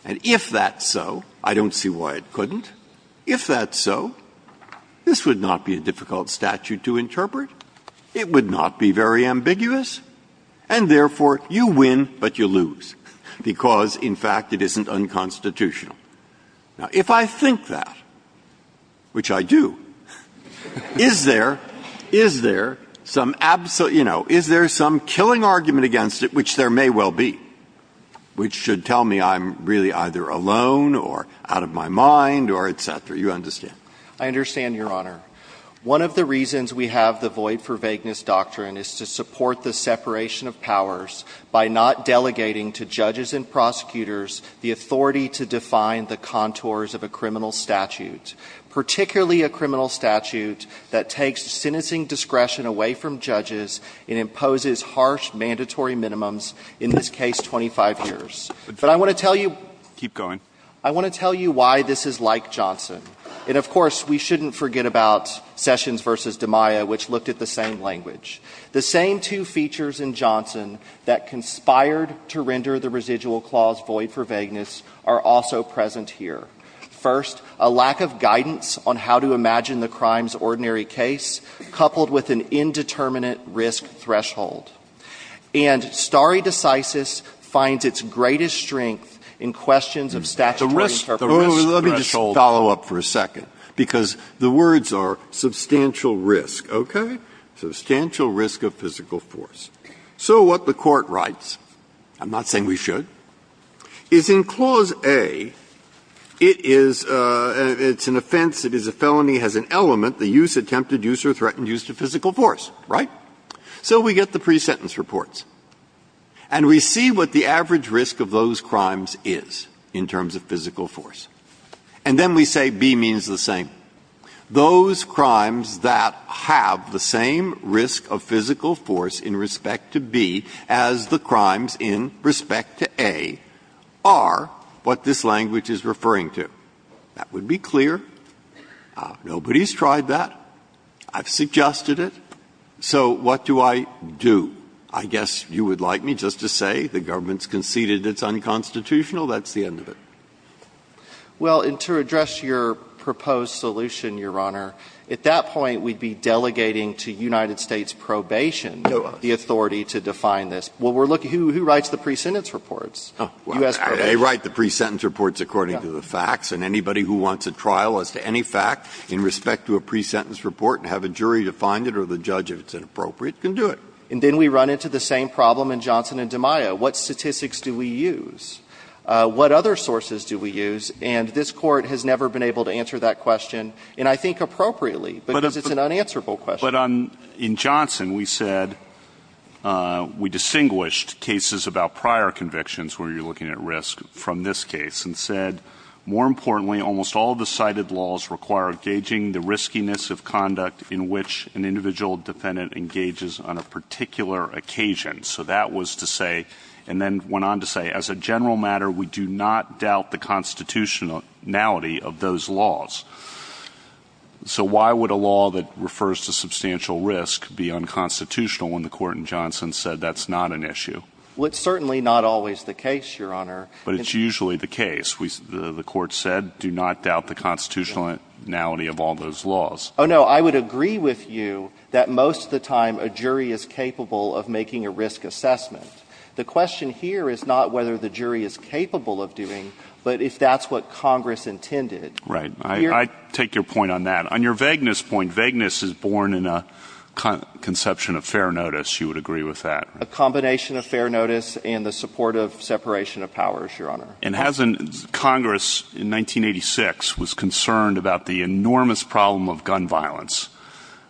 And if that's so, I don't see why it couldn't, if that's so, this would not be a difficult statute to interpret. It would not be very ambiguous, and therefore, you win, but you lose, because, in fact, it isn't unconstitutional. Now, if I think that, which I do, is there, is there some absolute, you know, is there some killing argument against it, which there may well be, which should tell me I'm really either alone or out of my mind or et cetera? You understand? I understand, Your Honor. One of the reasons we have the Void for Vagueness Doctrine is to support the separation of powers by not delegating to judges and prosecutors the authority to define the contours of a criminal statute, particularly a criminal statute that takes sentencing discretion away from judges and imposes harsh, mandatory minimums, in this case, 25 years. But I want to tell you. Keep going. I want to tell you why this is like Johnson. And, of course, we shouldn't forget about Sessions v. DiMaia, which looked at the same language. The same two features in Johnson that conspired to render the residual clause void for vagueness are also present here. First, a lack of guidance on how to imagine the crime's ordinary case, coupled with an indeterminate risk threshold. And stare decisis finds its greatest strength in questions of statutory interpretation of the risk threshold. Breyer. Let me just follow up for a second, because the words are substantial risk, okay? Substantial risk of physical force. So what the Court writes, I'm not saying we should, is in Clause A, it is an offense, it is a felony, has an element, the use, attempted use, or threatened use to physical force, right? So we get the pre-sentence reports. And we see what the average risk of those crimes is in terms of physical force. And then we say B means the same. Those crimes that have the same risk of physical force in respect to B as the crimes in respect to A are what this language is referring to. That would be clear. Nobody's tried that. I've suggested it. So what do I do? I guess you would like me just to say the government's conceded it's unconstitutional. That's the end of it. Well, and to address your proposed solution, Your Honor, at that point we'd be delegating to United States probation the authority to define this. Well, we're looking at who writes the pre-sentence reports? U.S. probation. They write the pre-sentence reports according to the facts. And anybody who wants a trial as to any fact in respect to a pre-sentence report and have a jury define it or the judge, if it's inappropriate, can do it. And then we run into the same problem in Johnson and DiMaio. What statistics do we use? What other sources do we use? And this Court has never been able to answer that question, and I think appropriately, because it's an unanswerable question. But in Johnson, we said we distinguished cases about prior convictions where you're looking at risk from this case and said, more importantly, almost all the cited laws require gauging the riskiness of conduct in which an individual defendant engages on a particular occasion. So that was to say, and then went on to say, as a general matter, we do not doubt the constitutionality of those laws. So why would a law that refers to substantial risk be unconstitutional when the Court in Johnson said that's not an issue? Well, it's certainly not always the case, Your Honor. But it's usually the case. The Court said, do not doubt the constitutionality of all those laws. Oh, no. I would agree with you that most of the time, a jury is capable of making a risk assessment. The question here is not whether the jury is capable of doing, but if that's what Congress intended. Right. I take your point on that. On your vagueness point, vagueness is born in a conception of fair notice. You would agree with that. A combination of fair notice and the support of separation of powers, Your Honor. And hasn't Congress, in 1986, was concerned about the enormous problem of gun violence,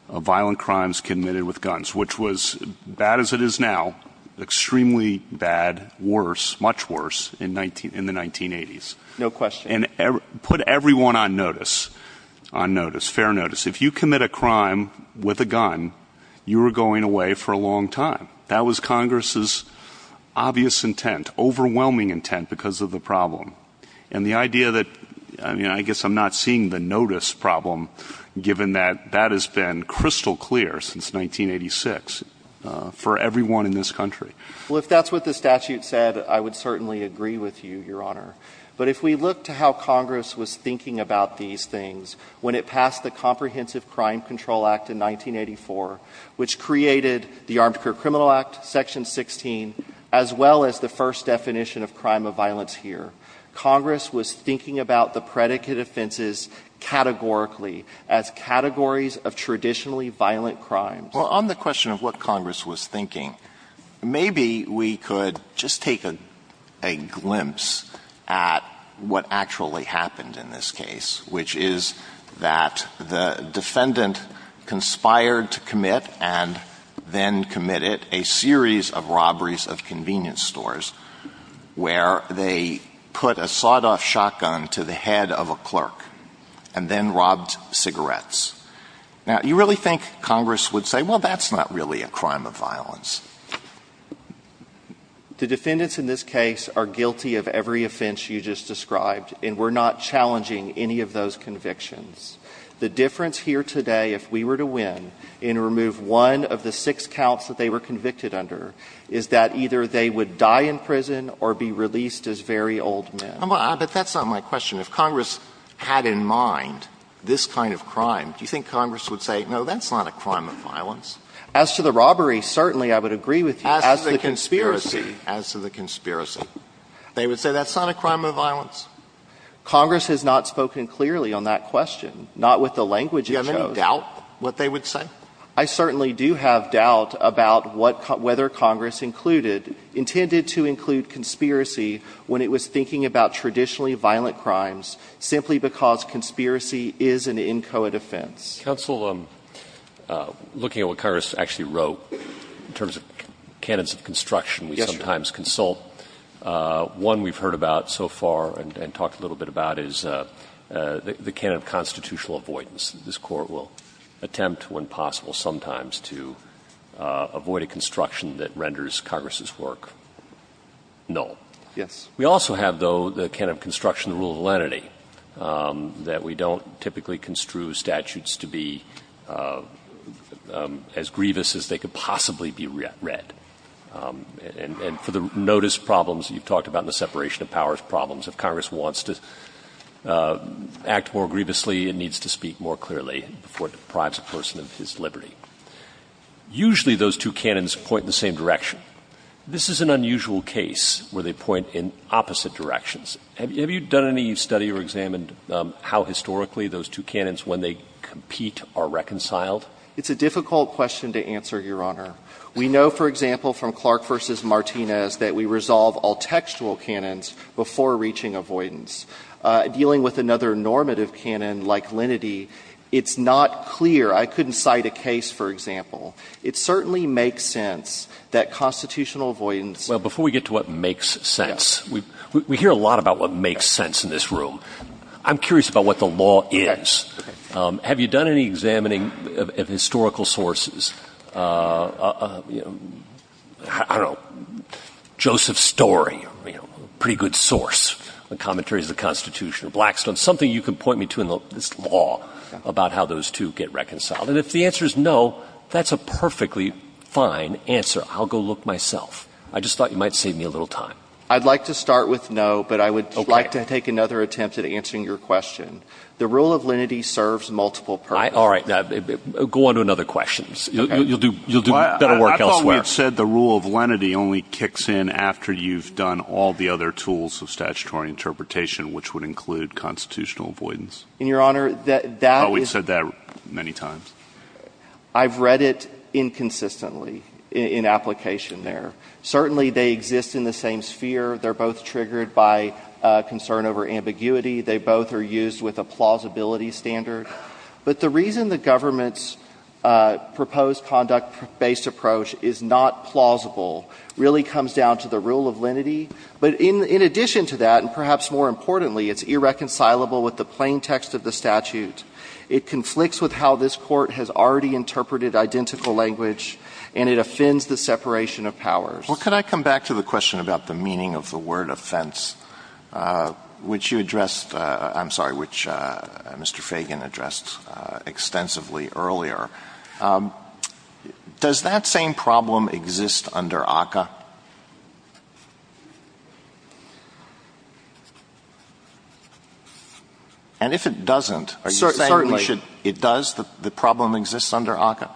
violent crimes committed with guns, which was bad as it is now, extremely bad, worse, much worse in the 1980s. No question. And put everyone on notice, on notice, fair notice. If you commit a crime with a gun, you were going away for a long time. That was Congress's obvious intent, overwhelming intent, because of the problem. And the idea that, I mean, I guess I'm not seeing the notice problem, given that that has been crystal clear since 1986 for everyone in this country. Well, if that's what the statute said, I would certainly agree with you, Your Honor. But if we look to how Congress was thinking about these things when it passed the Section 16, as well as the first definition of crime of violence here, Congress was thinking about the predicate offenses categorically, as categories of traditionally violent crimes. Well, on the question of what Congress was thinking, maybe we could just take a glimpse at what actually happened in this case, which is that the defendant conspired to commit and then committed a series of robberies of convenience stores, where they put a sawed-off shotgun to the head of a clerk and then robbed cigarettes. Now, you really think Congress would say, well, that's not really a crime of violence? The defendants in this case are guilty of every offense you just described, and we're not challenging any of those convictions. The difference here today, if we were to win and remove one of the six counts that they were convicted under, is that either they would die in prison or be released as very old men. But that's not my question. If Congress had in mind this kind of crime, do you think Congress would say, no, that's not a crime of violence? As to the robbery, certainly I would agree with you. As to the conspiracy. They would say that's not a crime of violence. Congress has not spoken clearly on that question. Not with the language it chose. Do you have any doubt what they would say? I certainly do have doubt about whether Congress included, intended to include conspiracy when it was thinking about traditionally violent crimes, simply because conspiracy is an inchoate offense. Counsel, looking at what Congress actually wrote in terms of canons of construction, we sometimes consult one we've heard about so far. And talked a little bit about is the canon of constitutional avoidance. This Court will attempt, when possible, sometimes to avoid a construction that renders Congress's work null. Yes. We also have, though, the canon of construction, the rule of lenity, that we don't typically construe statutes to be as grievous as they could possibly be read. And for the notice problems you've talked about in the separation of powers problems, if Congress wants to act more grievously, it needs to speak more clearly before it deprives a person of his liberty. Usually those two canons point in the same direction. This is an unusual case where they point in opposite directions. Have you done any study or examined how historically those two canons, when they compete, are reconciled? It's a difficult question to answer, Your Honor. We know, for example, from Clark v. Martinez, that we resolve all textual canons before reaching avoidance. Dealing with another normative canon, like lenity, it's not clear. I couldn't cite a case, for example. It certainly makes sense that constitutional avoidance Well, before we get to what makes sense, we hear a lot about what makes sense in this room. I'm curious about what the law is. Have you done any examining of historical sources? I don't know. Joseph Story, a pretty good source on commentaries of the Constitution, Blackstone. Something you can point me to in this law about how those two get reconciled. And if the answer is no, that's a perfectly fine answer. I'll go look myself. I just thought you might save me a little time. I'd like to start with no, but I would like to take another attempt at answering your question. The rule of lenity serves multiple purposes. All right, go on to another question. You'll do better work elsewhere. I thought we had said the rule of lenity only kicks in after you've done all the other tools of statutory interpretation, which would include constitutional avoidance. And, Your Honor, that is Oh, we've said that many times. I've read it inconsistently in application there. Certainly, they exist in the same sphere. They're both triggered by concern over ambiguity. They both are used with a plausibility standard. But the reason the government's proposed conduct-based approach is not plausible really comes down to the rule of lenity. But in addition to that, and perhaps more importantly, it's irreconcilable with the plain text of the statute. It conflicts with how this Court has already interpreted identical language, and it offends the separation of powers. Well, can I come back to the question about the meaning of the word offense, which you addressed — I'm sorry, which Mr. Fagan addressed extensively earlier. Does that same problem exist under ACCA? And if it doesn't, are you saying it should — Certainly. It does? The problem exists under ACCA?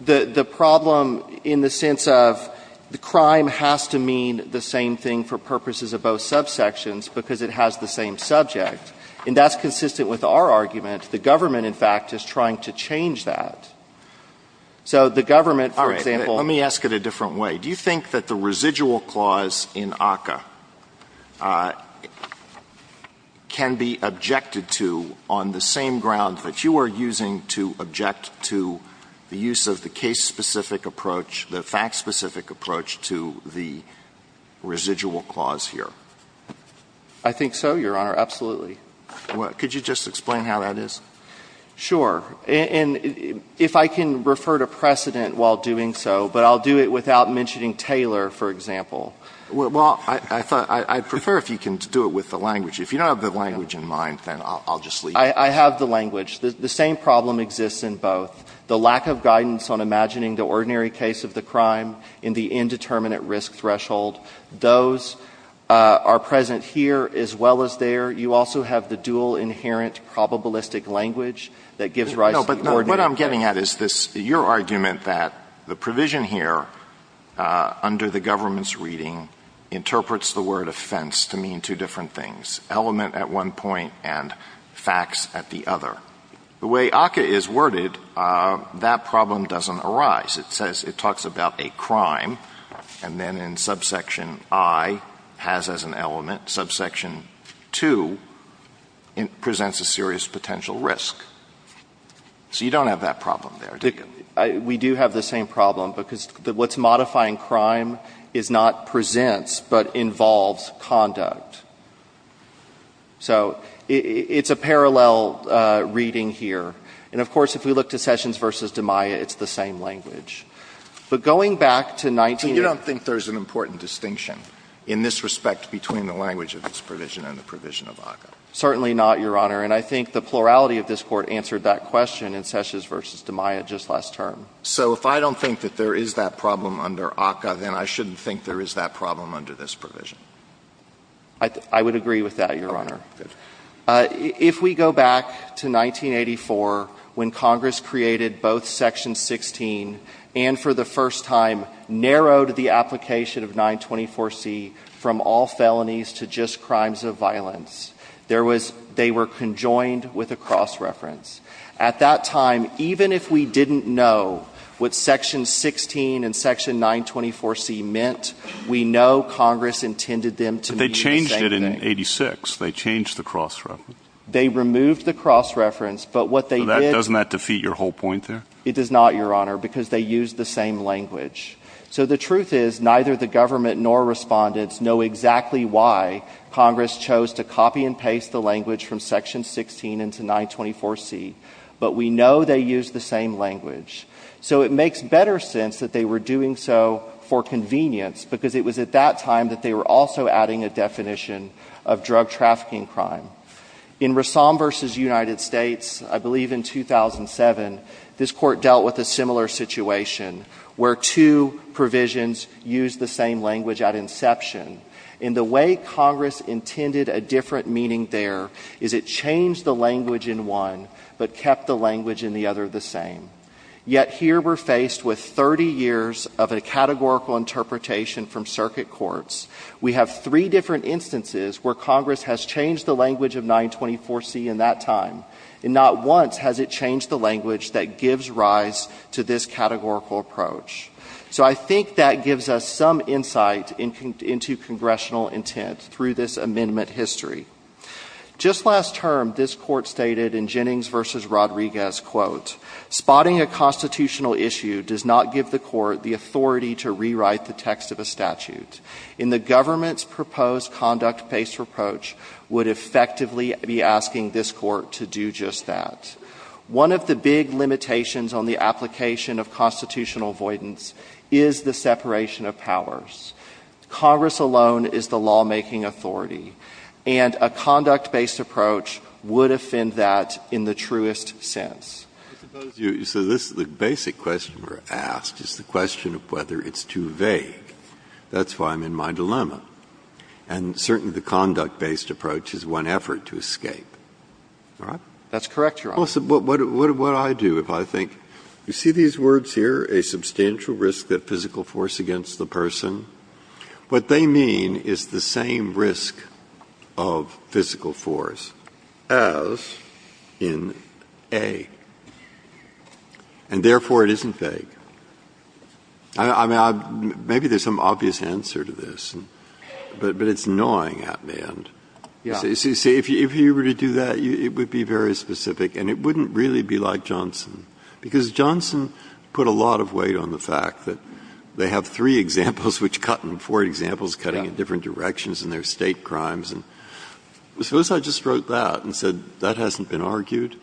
The problem in the sense of the crime has to mean the same thing for purposes of both subsections because it has the same subject. And that's consistent with our argument. The government, in fact, is trying to change that. So the government, for example — All right. Let me ask it a different way. Do you think that the residual clause in ACCA can be objected to on the same ground that you are using to object to the use of the case-specific approach, the fact-specific approach to the residual clause here? I think so, Your Honor. Absolutely. Could you just explain how that is? Sure. And if I can refer to precedent while doing so, but I'll do it without mentioning Taylor, for example. Well, I prefer if you can do it with the language. If you don't have the language in mind, then I'll just leave it. I have the language. The same problem exists in both. The lack of guidance on imagining the ordinary case of the crime in the indeterminate risk threshold, those are present here as well as there. You also have the dual inherent probabilistic language that gives rise to the ordinary. But what I'm getting at is this — your argument that the provision here under the government's reading interprets the word offense to mean two different things, element at one point and facts at the other. The way ACCA is worded, that problem doesn't arise. It says — it talks about a crime, and then in subsection I, has as an element. Subsection II presents a serious potential risk. So you don't have that problem there, do you? We do have the same problem because what's modifying crime is not presents but involves conduct. So it's a parallel reading here. And of course, if we look to Sessions v. DiMaia, it's the same language. But going back to 19 — So you don't think there's an important distinction in this respect between the language of this provision and the provision of ACCA? Certainly not, Your Honor. And I think the plurality of this Court answered that question in Sessions v. DiMaia just last term. So if I don't think that there is that problem under ACCA, then I shouldn't think there is that problem under this provision? I would agree with that, Your Honor. If we go back to 1984, when Congress created both Section 16 and for the first time narrowed the application of 924C from all felonies to just crimes of violence, they were conjoined with a cross-reference. At that time, even if we didn't know what Section 16 and Section 924C meant, we know Congress intended them to mean the same thing. But they changed it in 86. They changed the cross-reference. They removed the cross-reference. But what they did — Doesn't that defeat your whole point there? It does not, Your Honor, because they used the same language. So the truth is, neither the government nor respondents know exactly why Congress chose to copy and paste the language from Section 16 into 924C. But we know they used the same language. So it makes better sense that they were doing so for convenience, because it was at time that they were also adding a definition of drug trafficking crime. In Rassam v. United States, I believe in 2007, this Court dealt with a similar situation where two provisions used the same language at inception. And the way Congress intended a different meaning there is it changed the language in one but kept the language in the other the same. Yet here we're faced with 30 years of a categorical interpretation from circuit courts. We have three different instances where Congress has changed the language of 924C in that time. And not once has it changed the language that gives rise to this categorical approach. So I think that gives us some insight into congressional intent through this amendment history. Just last term, this Court stated in Jennings v. Rodriguez, quote, Spotting a constitutional issue does not give the Court the authority to rewrite the text of a statute, and the government's proposed conduct-based approach would effectively be asking this Court to do just that. One of the big limitations on the application of constitutional avoidance is the separation of powers. Congress alone is the lawmaking authority, and a conduct-based approach would offend that in the truest sense. Breyer. I suppose you say this is the basic question we're asked is the question of whether it's too vague. That's why I'm in my dilemma. And certainly the conduct-based approach is one effort to escape. All right? That's correct, Your Honor. Well, so what would I do if I think? You see these words here, a substantial risk of physical force against the person? What they mean is the same risk of physical force as in A. And therefore, it isn't vague. Maybe there's some obvious answer to this, but it's annoying at the end. Yeah. You see, if you were to do that, it would be very specific, and it wouldn't really be like Johnson, because Johnson put a lot of weight on the fact that they have three examples, which cut in four examples, cutting in different directions, and they're state crimes. And suppose I just wrote that and said, that hasn't been argued?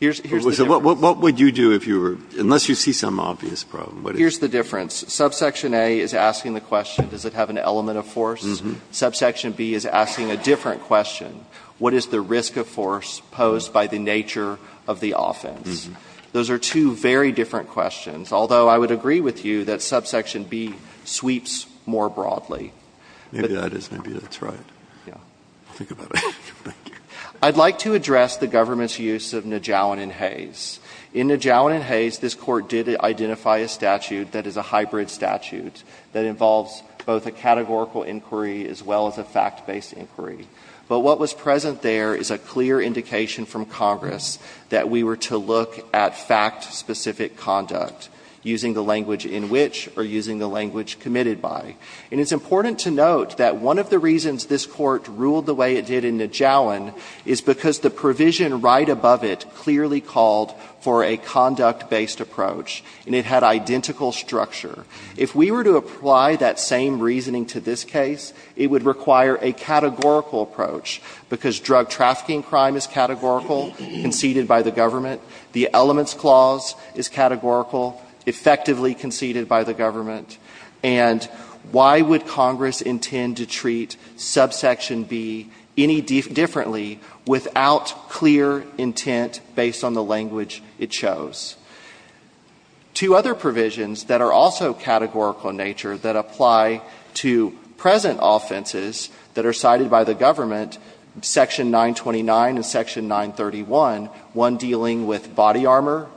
Here's the difference. What would you do if you were, unless you see some obvious problem? Here's the difference. Subsection A is asking the question, does it have an element of force? Subsection B is asking a different question. What is the risk of force posed by the nature of the offense? Those are two very different questions. Although, I would agree with you that subsection B sweeps more broadly. Maybe that is. Maybe that's right. Yeah. Think about it. Thank you. I'd like to address the government's use of Najauen and Hayes. In Najauen and Hayes, this Court did identify a statute that is a hybrid statute that involves both a categorical inquiry as well as a fact-based inquiry. But what was present there is a clear indication from Congress that we were to look at fact-specific conduct using the language in which or using the language committed by. And it's important to note that one of the reasons this Court ruled the way it did in Najauen is because the provision right above it clearly called for a conduct-based approach, and it had identical structure. If we were to apply that same reasoning to this case, it would require a categorical approach because drug trafficking crime is categorical, conceded by the government. The elements clause is categorical, effectively conceded by the government. And why would Congress intend to treat subsection B any differently without clear intent based on the language it chose? Two other provisions that are also categorical in nature that apply to present offenses that are cited by the government, Section 929 and Section 931, one dealing with body armor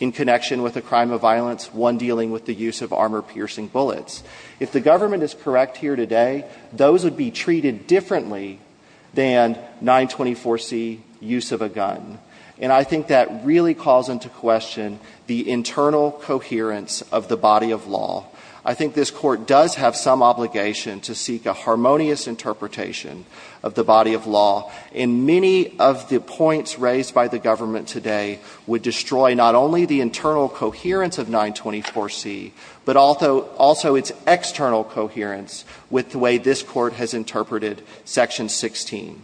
in connection with a crime of violence, one dealing with the use of armor-piercing bullets. If the government is correct here today, those would be treated differently than 924C use of a gun. And I think that really calls into question the internal coherence of the body of law. I think this Court does have some obligation to seek a harmonious interpretation of the body of law. And many of the points raised by the government today would destroy not only the internal coherence of 924C, but also its external coherence with the way this Court has interpreted Section 16.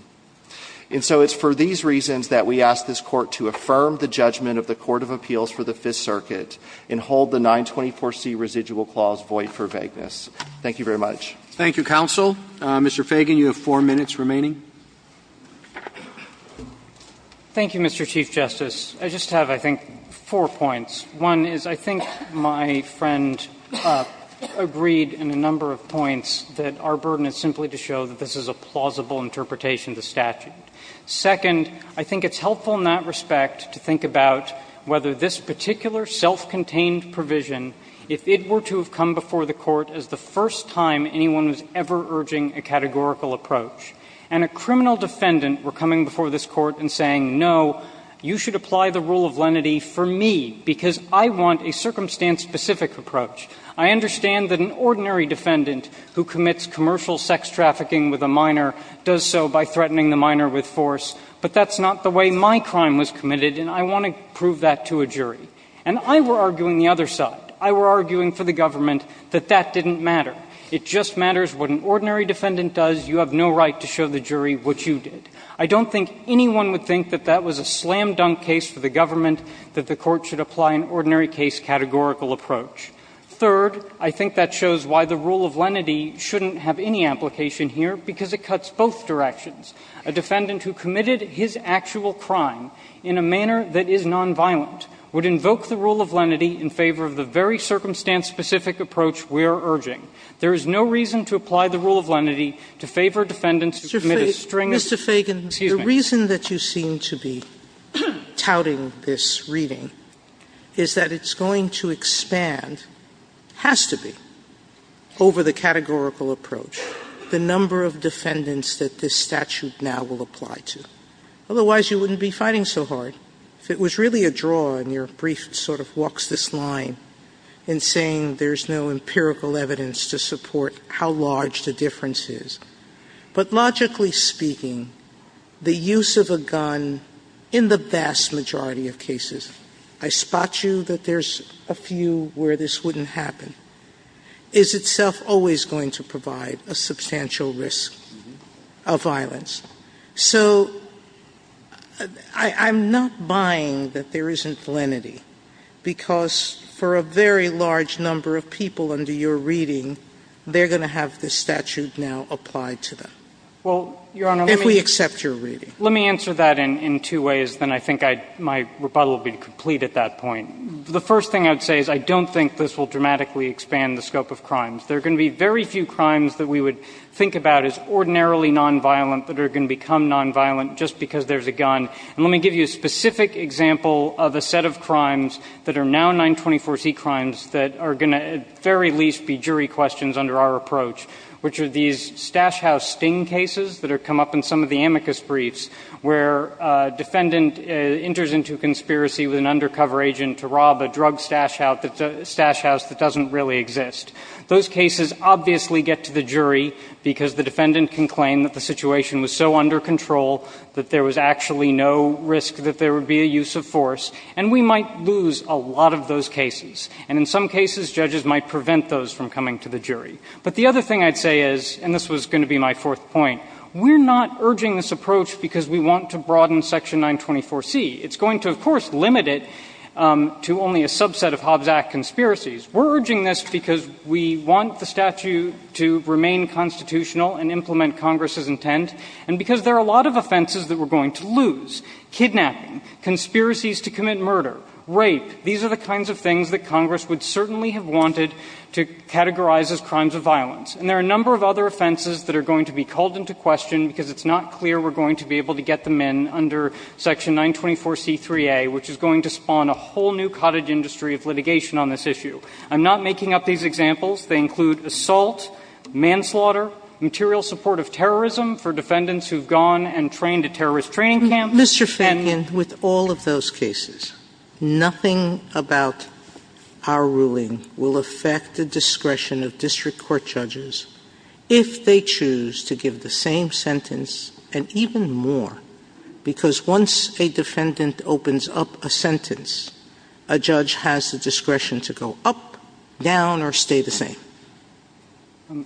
And so it's for these reasons that we ask this Court to affirm the judgment of the 924C residual clause void for vagueness. Thank you very much. Roberts. Thank you, counsel. Mr. Fagan, you have four minutes remaining. Fagan. Thank you, Mr. Chief Justice. I just have, I think, four points. One is I think my friend agreed in a number of points that our burden is simply to show that this is a plausible interpretation of the statute. Second, I think it's helpful in that respect to think about whether this particular self-contained provision, if it were to have come before the Court as the first time anyone was ever urging a categorical approach, and a criminal defendant were coming before this Court and saying, no, you should apply the rule of lenity for me because I want a circumstance-specific approach. I understand that an ordinary defendant who commits commercial sex trafficking with a minor does so by threatening the minor with force, but that's not the way my And I were arguing the other side. I were arguing for the government that that didn't matter. It just matters what an ordinary defendant does. You have no right to show the jury what you did. I don't think anyone would think that that was a slam-dunk case for the government that the Court should apply an ordinary case categorical approach. Third, I think that shows why the rule of lenity shouldn't have any application here, because it cuts both directions. A defendant who committed his actual crime in a manner that is non-violent would invoke the rule of lenity in favor of the very circumstance-specific approach we are urging. There is no reason to apply the rule of lenity to favor defendants who commit a string of sex trafficking. Sotomayor, the reason that you seem to be touting this reading is that it's going to expand, has to be, over the categorical approach, the number of defendants that this statute now will apply to. Otherwise, you wouldn't be fighting so hard. If it was really a draw, and your brief sort of walks this line in saying there's no empirical evidence to support how large the difference is. But logically speaking, the use of a gun in the vast majority of cases, I spot you that there's a few where this wouldn't happen, is itself always going to provide a substantial risk of violence. So I'm not buying that there isn't lenity, because for a very large number of people under your reading, they're going to have this statute now applied to them. If we accept your reading. Let me answer that in two ways, then I think my rebuttal will be complete at that point. The first thing I would say is I don't think this will dramatically expand the scope of crimes. There are going to be very few crimes that we would think about as ordinarily nonviolent that are going to become nonviolent just because there's a gun. And let me give you a specific example of a set of crimes that are now 924C crimes that are going to at the very least be jury questions under our approach, which are these Stash House sting cases that have come up in some of the amicus briefs, where a defendant enters into a conspiracy with an undercover agent to rob a drug stash house that doesn't really exist. Those cases obviously get to the jury because the defendant can claim that the situation was so under control that there was actually no risk that there would be a use of force, and we might lose a lot of those cases. And in some cases, judges might prevent those from coming to the jury. But the other thing I'd say is, and this was going to be my fourth point, we're not urging this approach because we want to broaden section 924C. It's going to, of course, limit it to only a subset of Hobbs Act conspiracies. We're urging this because we want the statute to remain constitutional and implement Congress's intent, and because there are a lot of offenses that we're going to lose. Kidnapping, conspiracies to commit murder, rape, these are the kinds of things that Congress would certainly have wanted to categorize as crimes of violence. And there are a number of other offenses that are going to be called into question because it's not clear we're going to be able to get them in under section 924C3A, which is going to spawn a whole new cottage industry of litigation on this issue. I'm not making up these examples. They include assault, manslaughter, material support of terrorism for defendants who've gone and trained at terrorist training camps. Sotomayor, with all of those cases, nothing about our ruling will affect the discretion of district court judges if they choose to give the same sentence, and even more, because once a defendant opens up a sentence, a judge has the discretion to go up, down, or stay the same.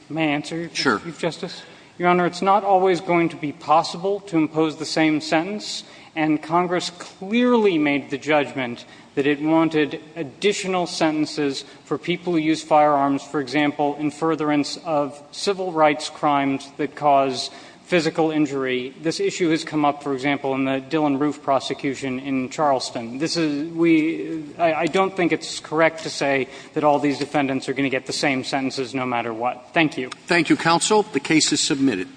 May I answer your question, Chief Justice? Your Honor, it's not always going to be possible to impose the same sentence. And Congress clearly made the judgment that it wanted additional sentences for people who use firearms, for example, in furtherance of civil rights crimes that cause physical injury. This issue has come up, for example, in the Dillon Roof prosecution in Charleston. This is we – I don't think it's correct to say that all these defendants are going to get the same sentences no matter what. Thank you. Thank you, counsel. The case is submitted.